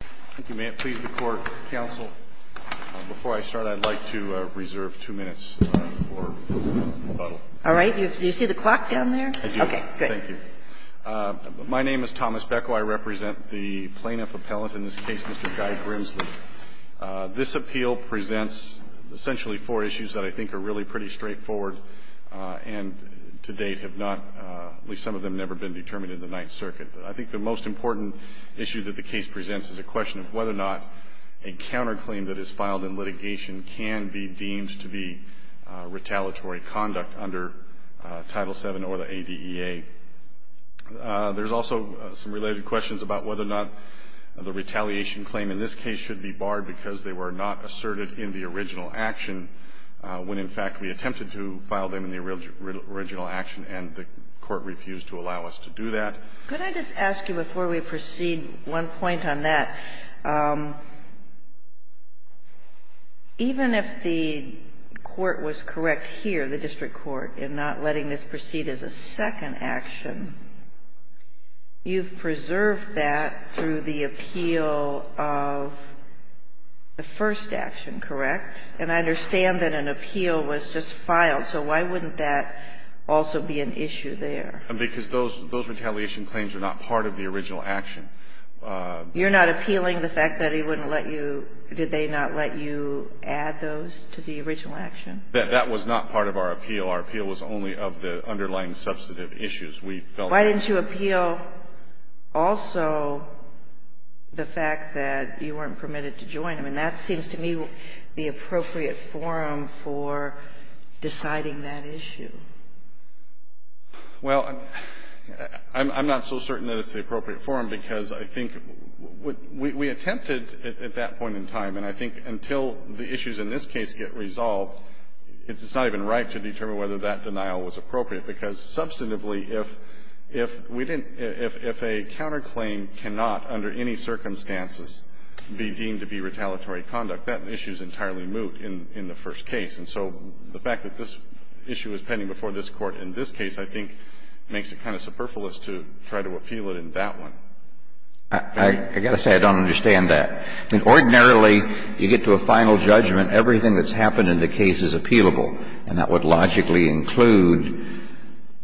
Thank you. May it please the Court, Counsel, before I start, I'd like to reserve two minutes for rebuttal. All right. Do you see the clock down there? I do. Okay, good. Thank you. My name is Thomas Beko. I represent the plaintiff appellant in this case, Mr. Guy Grimsley. This appeal presents essentially four issues that I think are really pretty straightforward and to date have not, at least some of them, never been determined in the Ninth Circuit. I think the most important issue that the case presents is a question of whether or not a counterclaim that is filed in litigation can be deemed to be retaliatory conduct under Title VII or the ADEA. There's also some related questions about whether or not the retaliation claim in this case should be barred because they were not asserted in the original action, when in fact we attempted to file them in the original action and the Court refused to allow us to do that. Could I just ask you before we proceed one point on that, even if the court was correct here, the district court, in not letting this proceed as a second action, you've preserved that through the appeal of the first action, correct? And I understand that an appeal was just filed. So why wouldn't that also be an issue there? Because those retaliation claims are not part of the original action. You're not appealing the fact that he wouldn't let you – did they not let you add those to the original action? That was not part of our appeal. Our appeal was only of the underlying substantive issues. We felt that. Why didn't you appeal also the fact that you weren't permitted to join? I mean, that seems to me the appropriate forum for deciding that issue. Well, I'm not so certain that it's the appropriate forum because I think we attempted at that point in time, and I think until the issues in this case get resolved, it's not even right to determine whether that denial was appropriate, because substantively, if a counterclaim cannot, under any circumstances, be deemed to be retaliatory before this Court in this case, I think it makes it kind of superfluous to try to appeal it in that one. I've got to say I don't understand that. I mean, ordinarily, you get to a final judgment, everything that's happened in the case is appealable. And that would logically include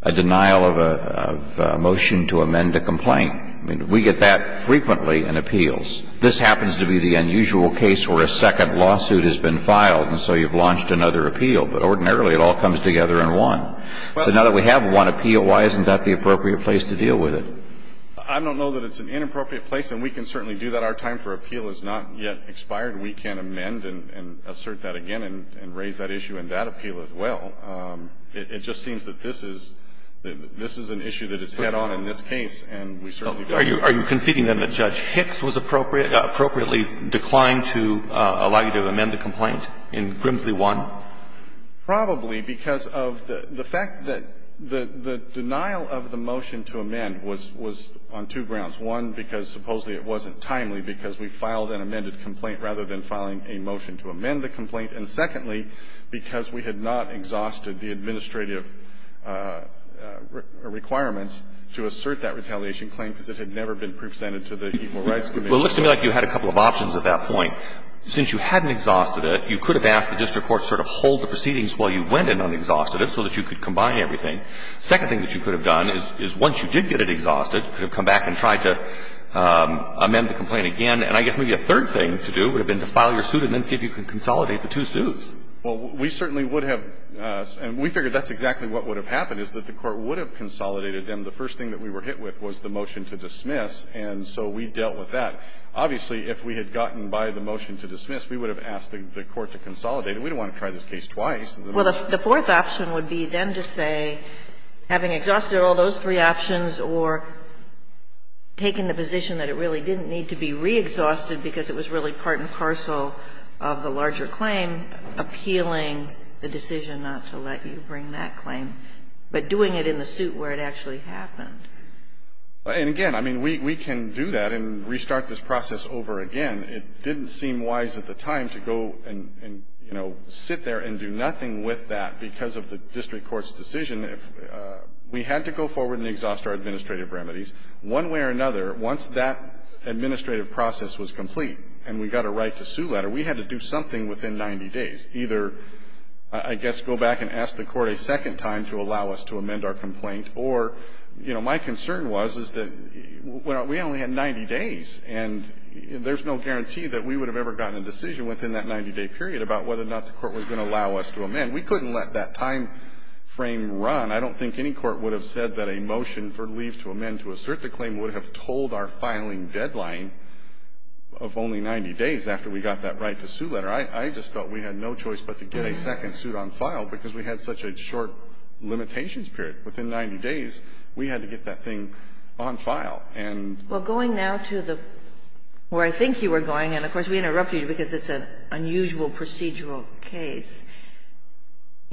a denial of a motion to amend a complaint. I mean, we get that frequently in appeals. This happens to be the unusual case where a second lawsuit has been filed, and so you've launched another appeal. But ordinarily, it all comes together in one. So now that we have one appeal, why isn't that the appropriate place to deal with it? I don't know that it's an inappropriate place, and we can certainly do that. Our time for appeal has not yet expired. We can amend and assert that again and raise that issue in that appeal as well. It just seems that this is an issue that is head on in this case, and we certainly can't do that. Are you conceding then that Judge Hicks was appropriately declined to allow you to amend the complaint in Grimsley 1? Probably, because of the fact that the denial of the motion to amend was on two grounds. One, because supposedly it wasn't timely, because we filed an amended complaint rather than filing a motion to amend the complaint. And secondly, because we had not exhausted the administrative requirements to assert that retaliation claim, because it had never been presented to the Equal Rights Committee. Well, it looks to me like you had a couple of options at that point. One, since you hadn't exhausted it, you could have asked the district court to sort of hold the proceedings while you went and un-exhausted it so that you could combine everything. Second thing that you could have done is once you did get it exhausted, you could have come back and tried to amend the complaint again. And I guess maybe a third thing to do would have been to file your suit and then see if you could consolidate the two suits. Well, we certainly would have. And we figured that's exactly what would have happened, is that the Court would have consolidated them. The first thing that we were hit with was the motion to dismiss, and so we dealt with that. Obviously, if we had gotten by the motion to dismiss, we would have asked the court to consolidate it. We didn't want to try this case twice. Well, the fourth option would be then to say, having exhausted all those three options or taking the position that it really didn't need to be re-exhausted because it was really part and parcel of the larger claim, appealing the decision not to let you bring that claim, but doing it in the suit where it actually happened. And again, I mean, we can do that and restart this process over again. It didn't seem wise at the time to go and, you know, sit there and do nothing with that because of the district court's decision. We had to go forward and exhaust our administrative remedies. One way or another, once that administrative process was complete and we got a right to sue that, or we had to do something within 90 days, either, I guess, go back and ask the court a second time to allow us to amend our complaint, or, you know, my concern was, is that we only had 90 days, and there's no guarantee that we would have ever gotten a decision within that 90-day period about whether or not the court was going to allow us to amend. We couldn't let that time frame run. I don't think any court would have said that a motion for leave to amend to assert the claim would have told our filing deadline of only 90 days after we got that right to sue letter. I just felt we had no choice but to get a second suit on file because we had such a short limitations period. Within 90 days, we had to get that thing on file. And we're going now to the where I think you were going, and, of course, we interrupted you because it's an unusual procedural case.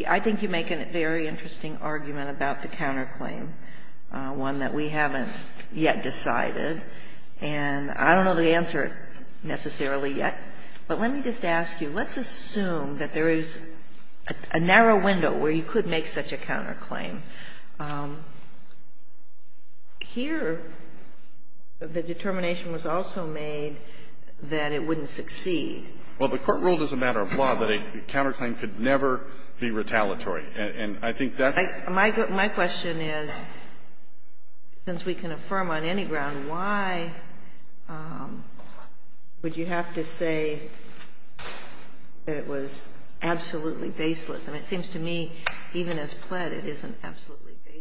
I think you make a very interesting argument about the counterclaim, one that we haven't yet decided, and I don't know the answer necessarily yet, but let me just ask you, let's assume that there is a narrow window where you could make such a counterclaim. Here, the determination was also made that it wouldn't succeed. Well, the Court ruled as a matter of law that a counterclaim could never be retaliatory. And I think that's the question. My question is, since we can affirm on any ground, why would you have to say that it was absolutely baseless? I mean, it seems to me, even as pled, it isn't absolutely baseless.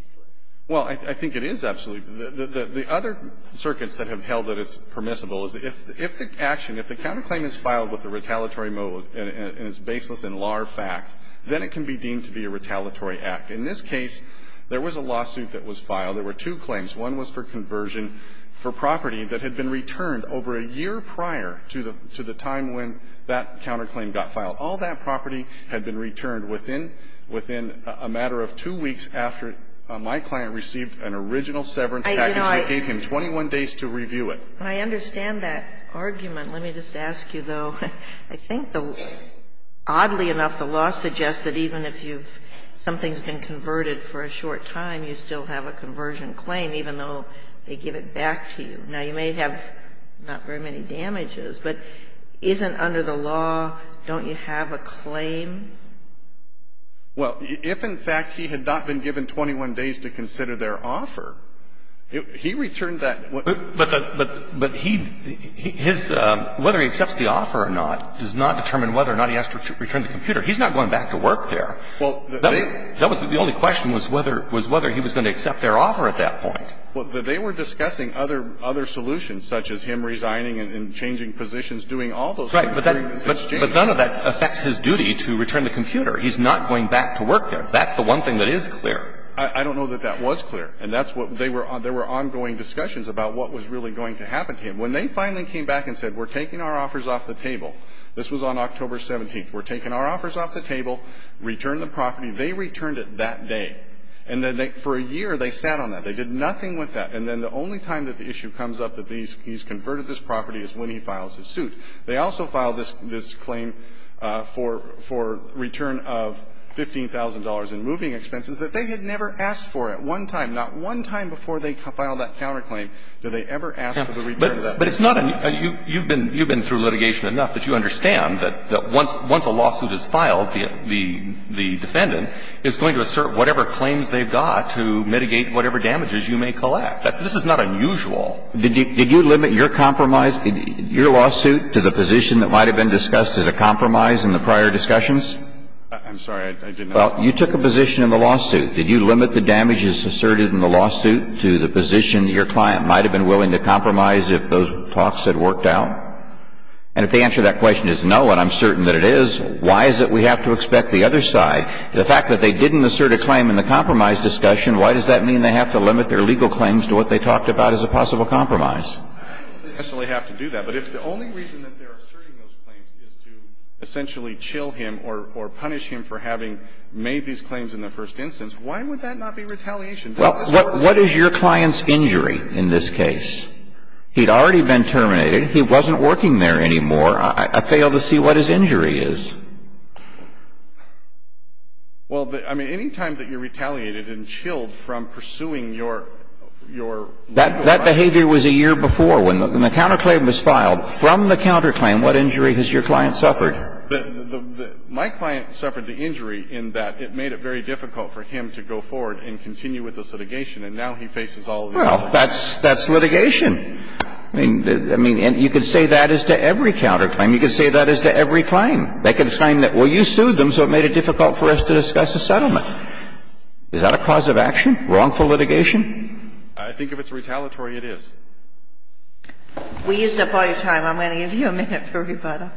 Well, I think it is absolutely. The other circuits that have held that it's permissible is if the action, if the counterclaim is filed with a retaliatory mode and it's baseless in law or fact, then it can be deemed to be a retaliatory act. In this case, there was a lawsuit that was filed. There were two claims. One was for conversion for property that had been returned over a year prior to the time when that counterclaim got filed. All that property had been returned within a matter of two weeks after my client received an original severance package that gave him 21 days to review it. I understand that argument. Let me just ask you, though. I think, oddly enough, the law suggests that even if you've – something's been converted for a short time, you still have a conversion claim, even though they give it back to you. Now, you may have not very many damages, but isn't under the law, don't you have to have a claim? Well, if in fact he had not been given 21 days to consider their offer, he returned that. But the – but he – his – whether he accepts the offer or not does not determine whether or not he has to return the computer. He's not going back to work there. Well, they – That was the only question was whether he was going to accept their offer at that point. Well, they were discussing other solutions, such as him resigning and changing positions, doing all those things in exchange. But none of that affects his duty to return the computer. He's not going back to work there. That's the one thing that is clear. I don't know that that was clear. And that's what – they were – there were ongoing discussions about what was really going to happen to him. When they finally came back and said, we're taking our offers off the table – this was on October 17th – we're taking our offers off the table, return the property, they returned it that day. And then they – for a year, they sat on that. They did nothing with that. And then the only time that the issue comes up that these – he's converted this property is when he files his suit. They also filed this claim for return of $15,000 in moving expenses that they had never asked for at one time. Not one time before they filed that counterclaim did they ever ask for the return of that money. But it's not a – you've been through litigation enough that you understand that once a lawsuit is filed, the defendant is going to assert whatever claims they've got to mitigate whatever damages you may collect. This is not unusual. Did you limit your compromise – your lawsuit to the position that might have been discussed as a compromise in the prior discussions? I'm sorry. I didn't know that. Well, you took a position in the lawsuit. Did you limit the damages asserted in the lawsuit to the position your client might have been willing to compromise if those talks had worked out? And if the answer to that question is no, and I'm certain that it is, why is it we have to expect the other side? The fact that they didn't assert a claim in the compromise discussion, why does that compromise? They definitely have to do that. But if the only reason that they're asserting those claims is to essentially chill him or punish him for having made these claims in the first instance, why would that not be retaliation? Well, what is your client's injury in this case? He'd already been terminated. He wasn't working there anymore. I fail to see what his injury is. Well, I mean, any time that you're retaliated and chilled from pursuing your legal right to claim, that's a violation. If it was a year before, when the counterclaim was filed, from the counterclaim, what injury has your client suffered? My client suffered the injury in that it made it very difficult for him to go forward and continue with the litigation. And now he faces all of these lawsuits. Well, that's litigation. I mean, you could say that as to every counterclaim. You could say that as to every claim. They could claim that, well, you sued them, so it made it difficult for us to discuss a settlement. Is that a cause of action, wrongful litigation? I think if it's retaliatory, it is. We used up all your time. I'm going to give you a minute for rebuttal.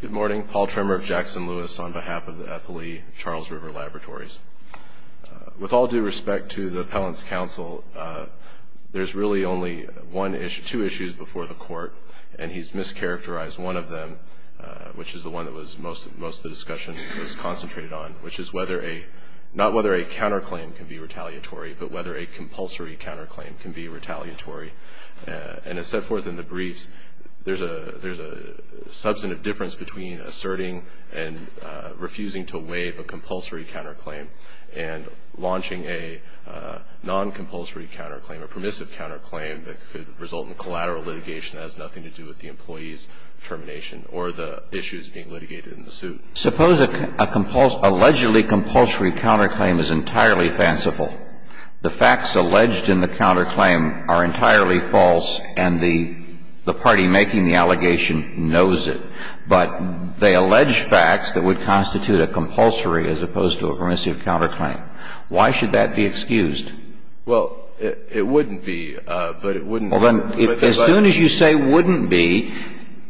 Good morning. Paul Tremmer of Jackson Lewis on behalf of the Eppley Charles River Laboratories. With all due respect to the Appellant's counsel, there's really only one issue, two issues before the Court, and he's mischaracterized one of them. Which is the one that was most of the discussion was concentrated on, which is whether a, not whether a counterclaim can be retaliatory, but whether a compulsory counterclaim can be retaliatory. And as set forth in the briefs, there's a substantive difference between asserting and refusing to waive a compulsory counterclaim. And launching a non-compulsory counterclaim, a permissive counterclaim that could result in collateral litigation that has nothing to do with the employee's determination or the issues being litigated in the suit. Suppose a allegedly compulsory counterclaim is entirely fanciful. The facts alleged in the counterclaim are entirely false and the party making the allegation knows it. But they allege facts that would constitute a compulsory as opposed to a permissive counterclaim. Why should that be excused? Well, it wouldn't be, but it wouldn't. Well, then, as soon as you say wouldn't be,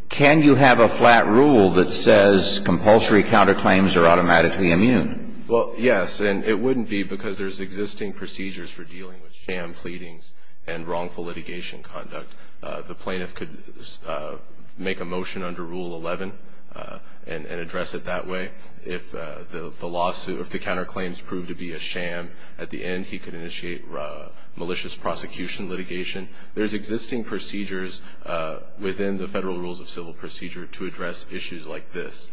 can you have a flat rule that says compulsory counterclaims are automatically immune? Well, yes, and it wouldn't be because there's existing procedures for dealing with sham pleadings and wrongful litigation conduct. The plaintiff could make a motion under Rule 11 and address it that way. If the lawsuit, if the counterclaims proved to be a sham, at the end he could initiate malicious prosecution litigation. There's existing procedures within the Federal Rules of Civil Procedure to address issues like this.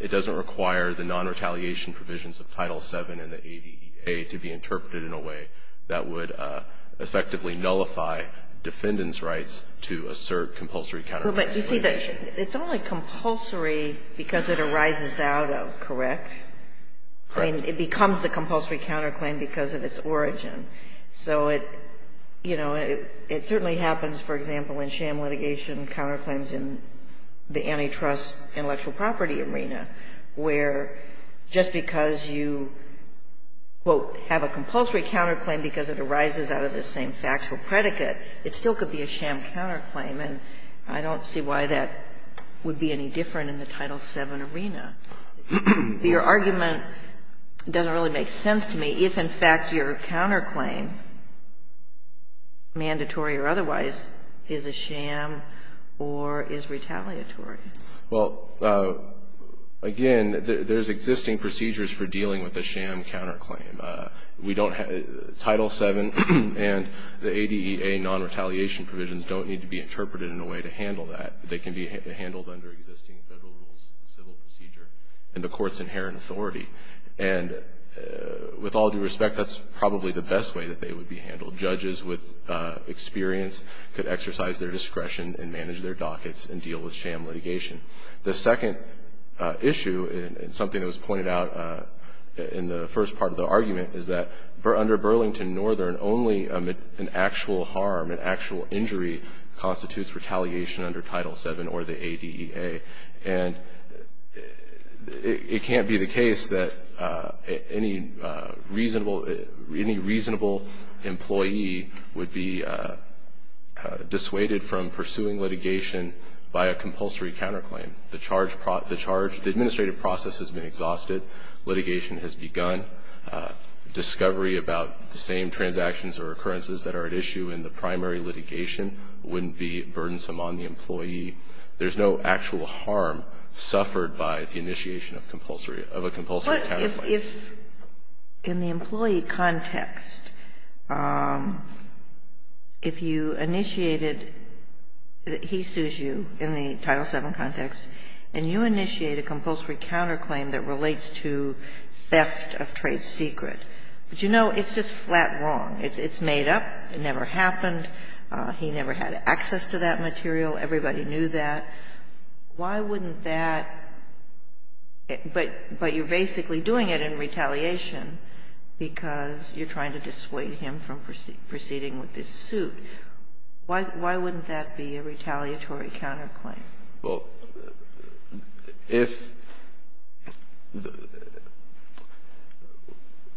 It doesn't require the non-retaliation provisions of Title VII and the ADEA to be interpreted in a way that would effectively nullify defendant's rights to assert compulsory counterclaims. But you see, it's only compulsory because it arises out of, correct? Correct. I mean, it becomes the compulsory counterclaim because of its origin. So it, you know, it certainly happens, for example, in sham litigation counterclaims in the antitrust intellectual property arena, where just because you, quote, have a compulsory counterclaim because it arises out of the same factual predicate, it still could be a sham counterclaim. And I don't see why that would be any different in the Title VII arena. Your argument doesn't really make sense to me. If, in fact, your counterclaim, mandatory or otherwise, is a sham or is retaliatory. Well, again, there's existing procedures for dealing with a sham counterclaim. We don't have the Title VII and the ADEA non-retaliation provisions don't need to be interpreted in a way to handle that. They can be handled under existing Federal Rules of Civil Procedure and the Court's inherent authority. And with all due respect, that's probably the best way that they would be handled. Judges with experience could exercise their discretion and manage their dockets and deal with sham litigation. The second issue, and something that was pointed out in the first part of the argument, is that under Burlington Northern, only an actual harm, an actual injury, constitutes retaliation under Title VII or the ADEA. And it can't be the case that any reasonable employee would be dissuaded from pursuing litigation by a compulsory counterclaim. The administrative process has been exhausted. Litigation has begun. Discovery about the same transactions or occurrences that are at issue in the primary litigation wouldn't be burdensome on the employee. There's no actual harm suffered by the initiation of compulsory, of a compulsory Ginsburg-Massey, if in the employee context, if you initiated, he sues you in the Title VII context, and you initiate a compulsory counterclaim that relates to theft of trade secret, but you know it's just flat wrong. It's made up. It never happened. He never had access to that material. Everybody knew that. Why wouldn't that, but you're basically doing it in retaliation because you're trying to dissuade him from proceeding with this suit. Why wouldn't that be a retaliatory counterclaim? Well, if,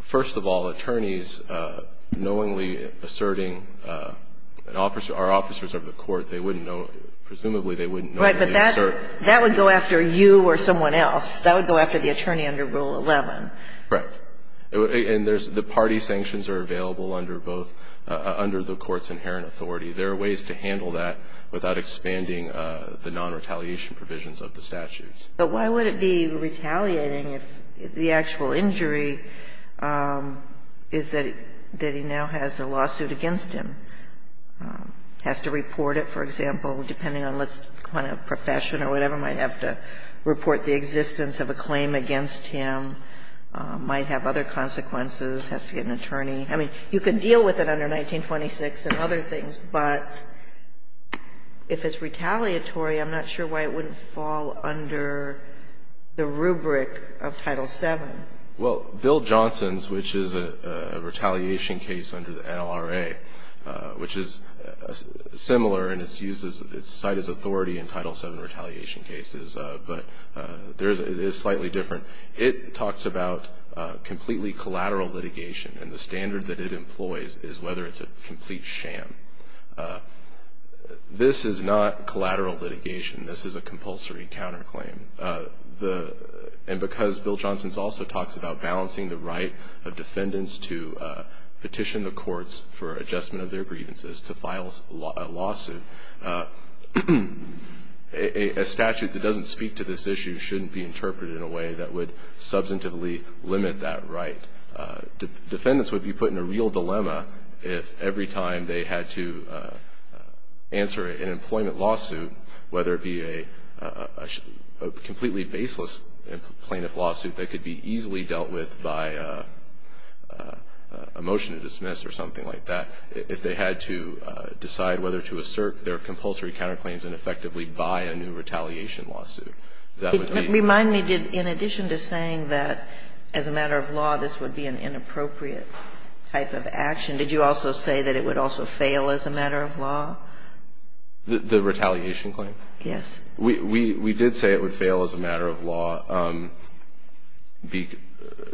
first of all, attorneys knowingly asserting an officer, our officers of the court, they wouldn't know, presumably they wouldn't know. Right, but that would go after you or someone else. That would go after the attorney under Rule 11. Right. And there's, the party sanctions are available under both, under the court's inherent authority. There are ways to handle that without expanding the non-retaliation provisions of the statutes. But why would it be retaliating if the actual injury is that he now has a lawsuit against him? Has to report it, for example, depending on what kind of profession or whatever. Might have to report the existence of a claim against him. Might have other consequences. Has to get an attorney. I mean, you can deal with it under 1926 and other things, but if it's retaliatory, I'm not sure why it wouldn't fall under the rubric of Title VII. Well, Bill Johnson's, which is a retaliation case under the NLRA, which is similar and it's used as, it's cited as authority in Title VII retaliation cases, but there's, it is slightly different. It talks about completely collateral litigation and the standard that it employs is whether it's a complete sham. This is not collateral litigation. This is a compulsory counterclaim. And because Bill Johnson's also talks about balancing the right of defendants to petition the courts for adjustment of their grievances to file a lawsuit, a statute that doesn't speak to this issue shouldn't be interpreted in a way that would substantively limit that right. Defendants would be put in a real dilemma if every time they had to answer an employment lawsuit, whether it be a completely baseless plaintiff lawsuit that could be easily dealt with by a motion to dismiss or something like that, if they had to decide whether to assert their compulsory counterclaims and effectively buy a new retaliation lawsuit. That would be the case. Remind me, in addition to saying that as a matter of law, this would be an inappropriate type of action, did you also say that it would also fail as a matter of law? The retaliation claim? Yes. We did say it would fail as a matter of law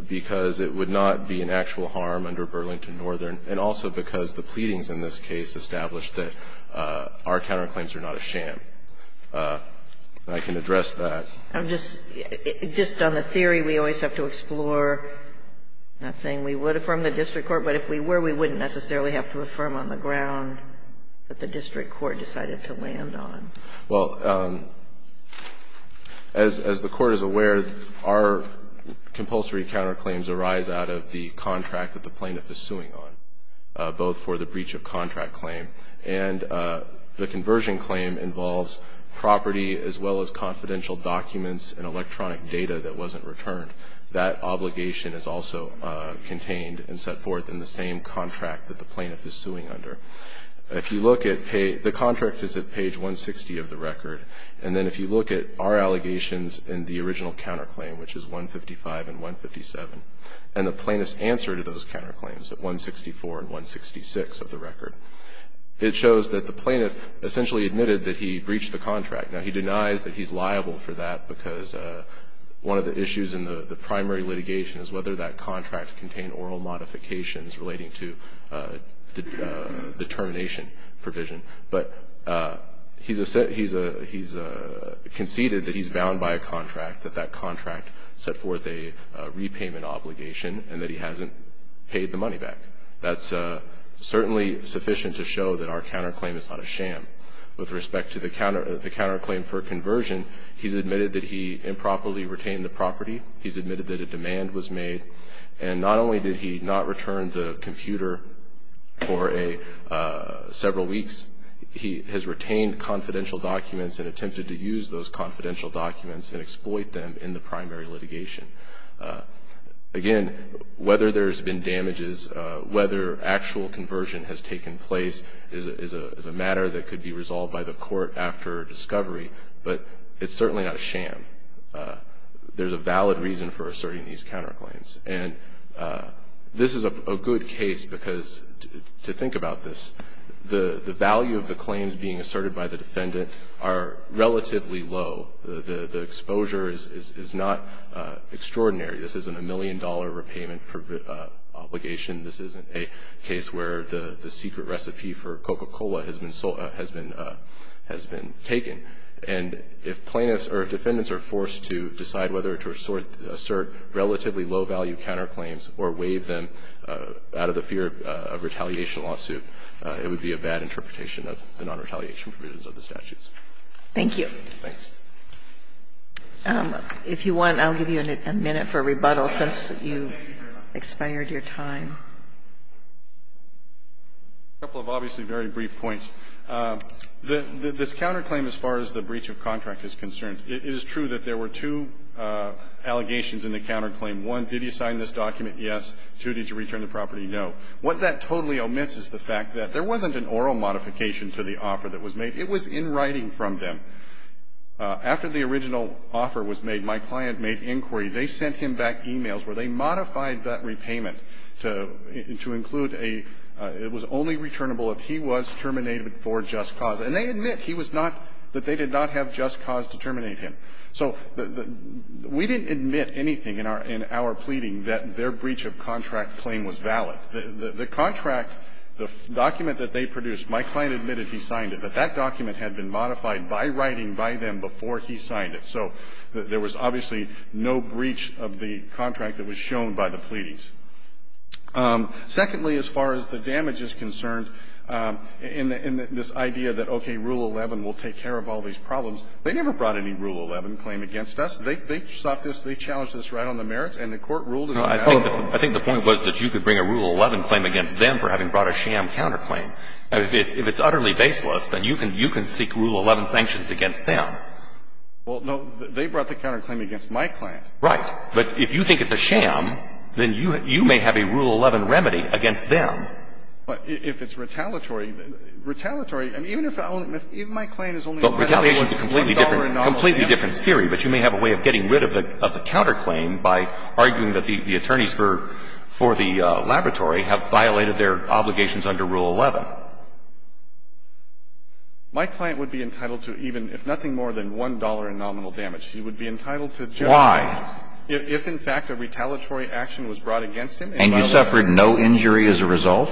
because it would not be an actual harm under Burlington Northern and also because the pleadings in this case established that our counterclaims are not a sham. I can address that. I'm just – just on the theory, we always have to explore, not saying we would affirm the district court, but if we were, we wouldn't necessarily have to affirm on the ground that the district court decided to land on. Well, as the Court is aware, our compulsory counterclaims arise out of the contract that the plaintiff is suing on, both for the breach of contract claim and the conversion claim involves property as well as confidential documents and electronic data that wasn't returned. That obligation is also contained and set forth in the same contract that the plaintiff is suing under. If you look at – the contract is at page 160 of the record, and then if you look at our allegations in the original counterclaim, which is 155 and 157, and the plaintiff's answer to those counterclaims at 164 and 166 of the record, it shows that the plaintiff essentially admitted that he breached the contract. Now, he denies that he's liable for that because one of the issues in the primary litigation is whether that contract contained oral modifications relating to the termination provision. But he's conceded that he's bound by a contract, that that contract set forth a repayment obligation, and that he hasn't paid the money back. That's certainly sufficient to show that our counterclaim is not a sham. With respect to the counterclaim for conversion, he's admitted that he improperly retained the property. He's admitted that a demand was made. And not only did he not return the computer for a – several weeks, he has retained confidential documents and attempted to use those confidential documents and exploit them in the primary litigation. Again, whether there's been damages, whether actual conversion has taken place is a matter that could be resolved by the court after discovery, but it's certainly not a sham. There's a valid reason for asserting these counterclaims. And this is a good case because, to think about this, the value of the claims being asserted by the defendant are relatively low. The exposure is not extraordinary. This isn't a million-dollar repayment obligation. This isn't a case where the secret recipe for Coca-Cola has been taken. And if plaintiffs or defendants are forced to decide whether to assert relatively low-value counterclaims or waive them out of the fear of retaliation lawsuit, it would be a bad interpretation of the nonretaliation provisions of the statutes. Thank you. Thanks. If you want, I'll give you a minute for rebuttal, since you've expired your time. A couple of obviously very brief points. This counterclaim, as far as the breach of contract is concerned, it is true that there were two allegations in the counterclaim. One, did you sign this document? Yes. Two, did you return the property? No. What that totally omits is the fact that there wasn't an oral modification to the offer that was made. It was in writing from them. After the original offer was made, my client made inquiry. They sent him back e-mails where they modified that repayment to include a, it was only returnable if he was terminated for just cause. And they admit he was not, that they did not have just cause to terminate him. So we didn't admit anything in our pleading that their breach of contract claim was valid. The contract, the document that they produced, my client admitted he signed it, but that document had been modified by writing by them before he signed it. So there was obviously no breach of the contract that was shown by the pleadings. Secondly, as far as the damage is concerned, in this idea that, okay, Rule 11 will take care of all these problems, they never brought any Rule 11 claim against us. They sought this, they challenged this right on the merits, and the Court ruled it on that. I think the point was that you could bring a Rule 11 claim against them for having brought a sham counterclaim. If it's utterly baseless, then you can seek Rule 11 sanctions against them. Well, no. They brought the counterclaim against my client. Right. But if you think it's a sham, then you may have a Rule 11 remedy against them. But if it's retaliatory, retaliatory, I mean, even if my client is only allotted $1 in nominal damage. But retaliation is a completely different theory, but you may have a way of getting rid of the counterclaim by arguing that the attorneys for the laboratory have violated their obligations under Rule 11. My client would be entitled to even if nothing more than $1 in nominal damage. He would be entitled to just that. Why? If in fact a retaliatory action was brought against him and violated his obligation. And you suffered no injury as a result?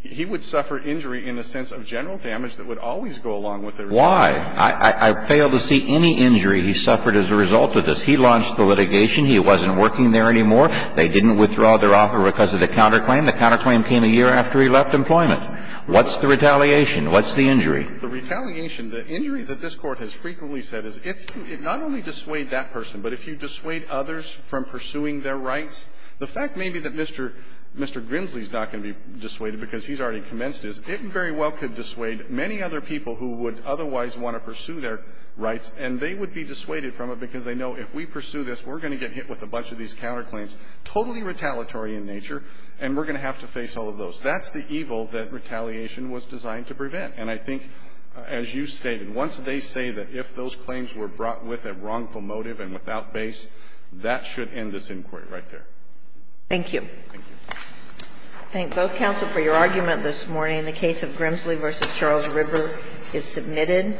He would suffer injury in the sense of general damage that would always go along with the retaliation. Why? I fail to see any injury he suffered as a result of this. He launched the litigation. He wasn't working there anymore. They didn't withdraw their offer because of the counterclaim. The counterclaim came a year after he left employment. What's the retaliation? What's the injury? The retaliation, the injury that this Court has frequently said is if you not only dissuade that person, but if you dissuade others from pursuing their rights, the fact maybe that Mr. Grimsley is not going to be dissuaded because he's already commenced is, it very well could dissuade many other people who would otherwise want to pursue their rights, and they would be dissuaded from it because they know if we pursue this, we're going to get hit with a bunch of these counterclaims, totally retaliatory in nature, and we're going to have to face all of those. That's the evil that retaliation was designed to prevent. And I think, as you stated, once they say that if those claims were brought with a wrongful motive and without base, that should end this inquiry right there. Thank you. Thank you. I thank both counsel for your argument this morning. The case of Grimsley v. Charles Ripper is submitted.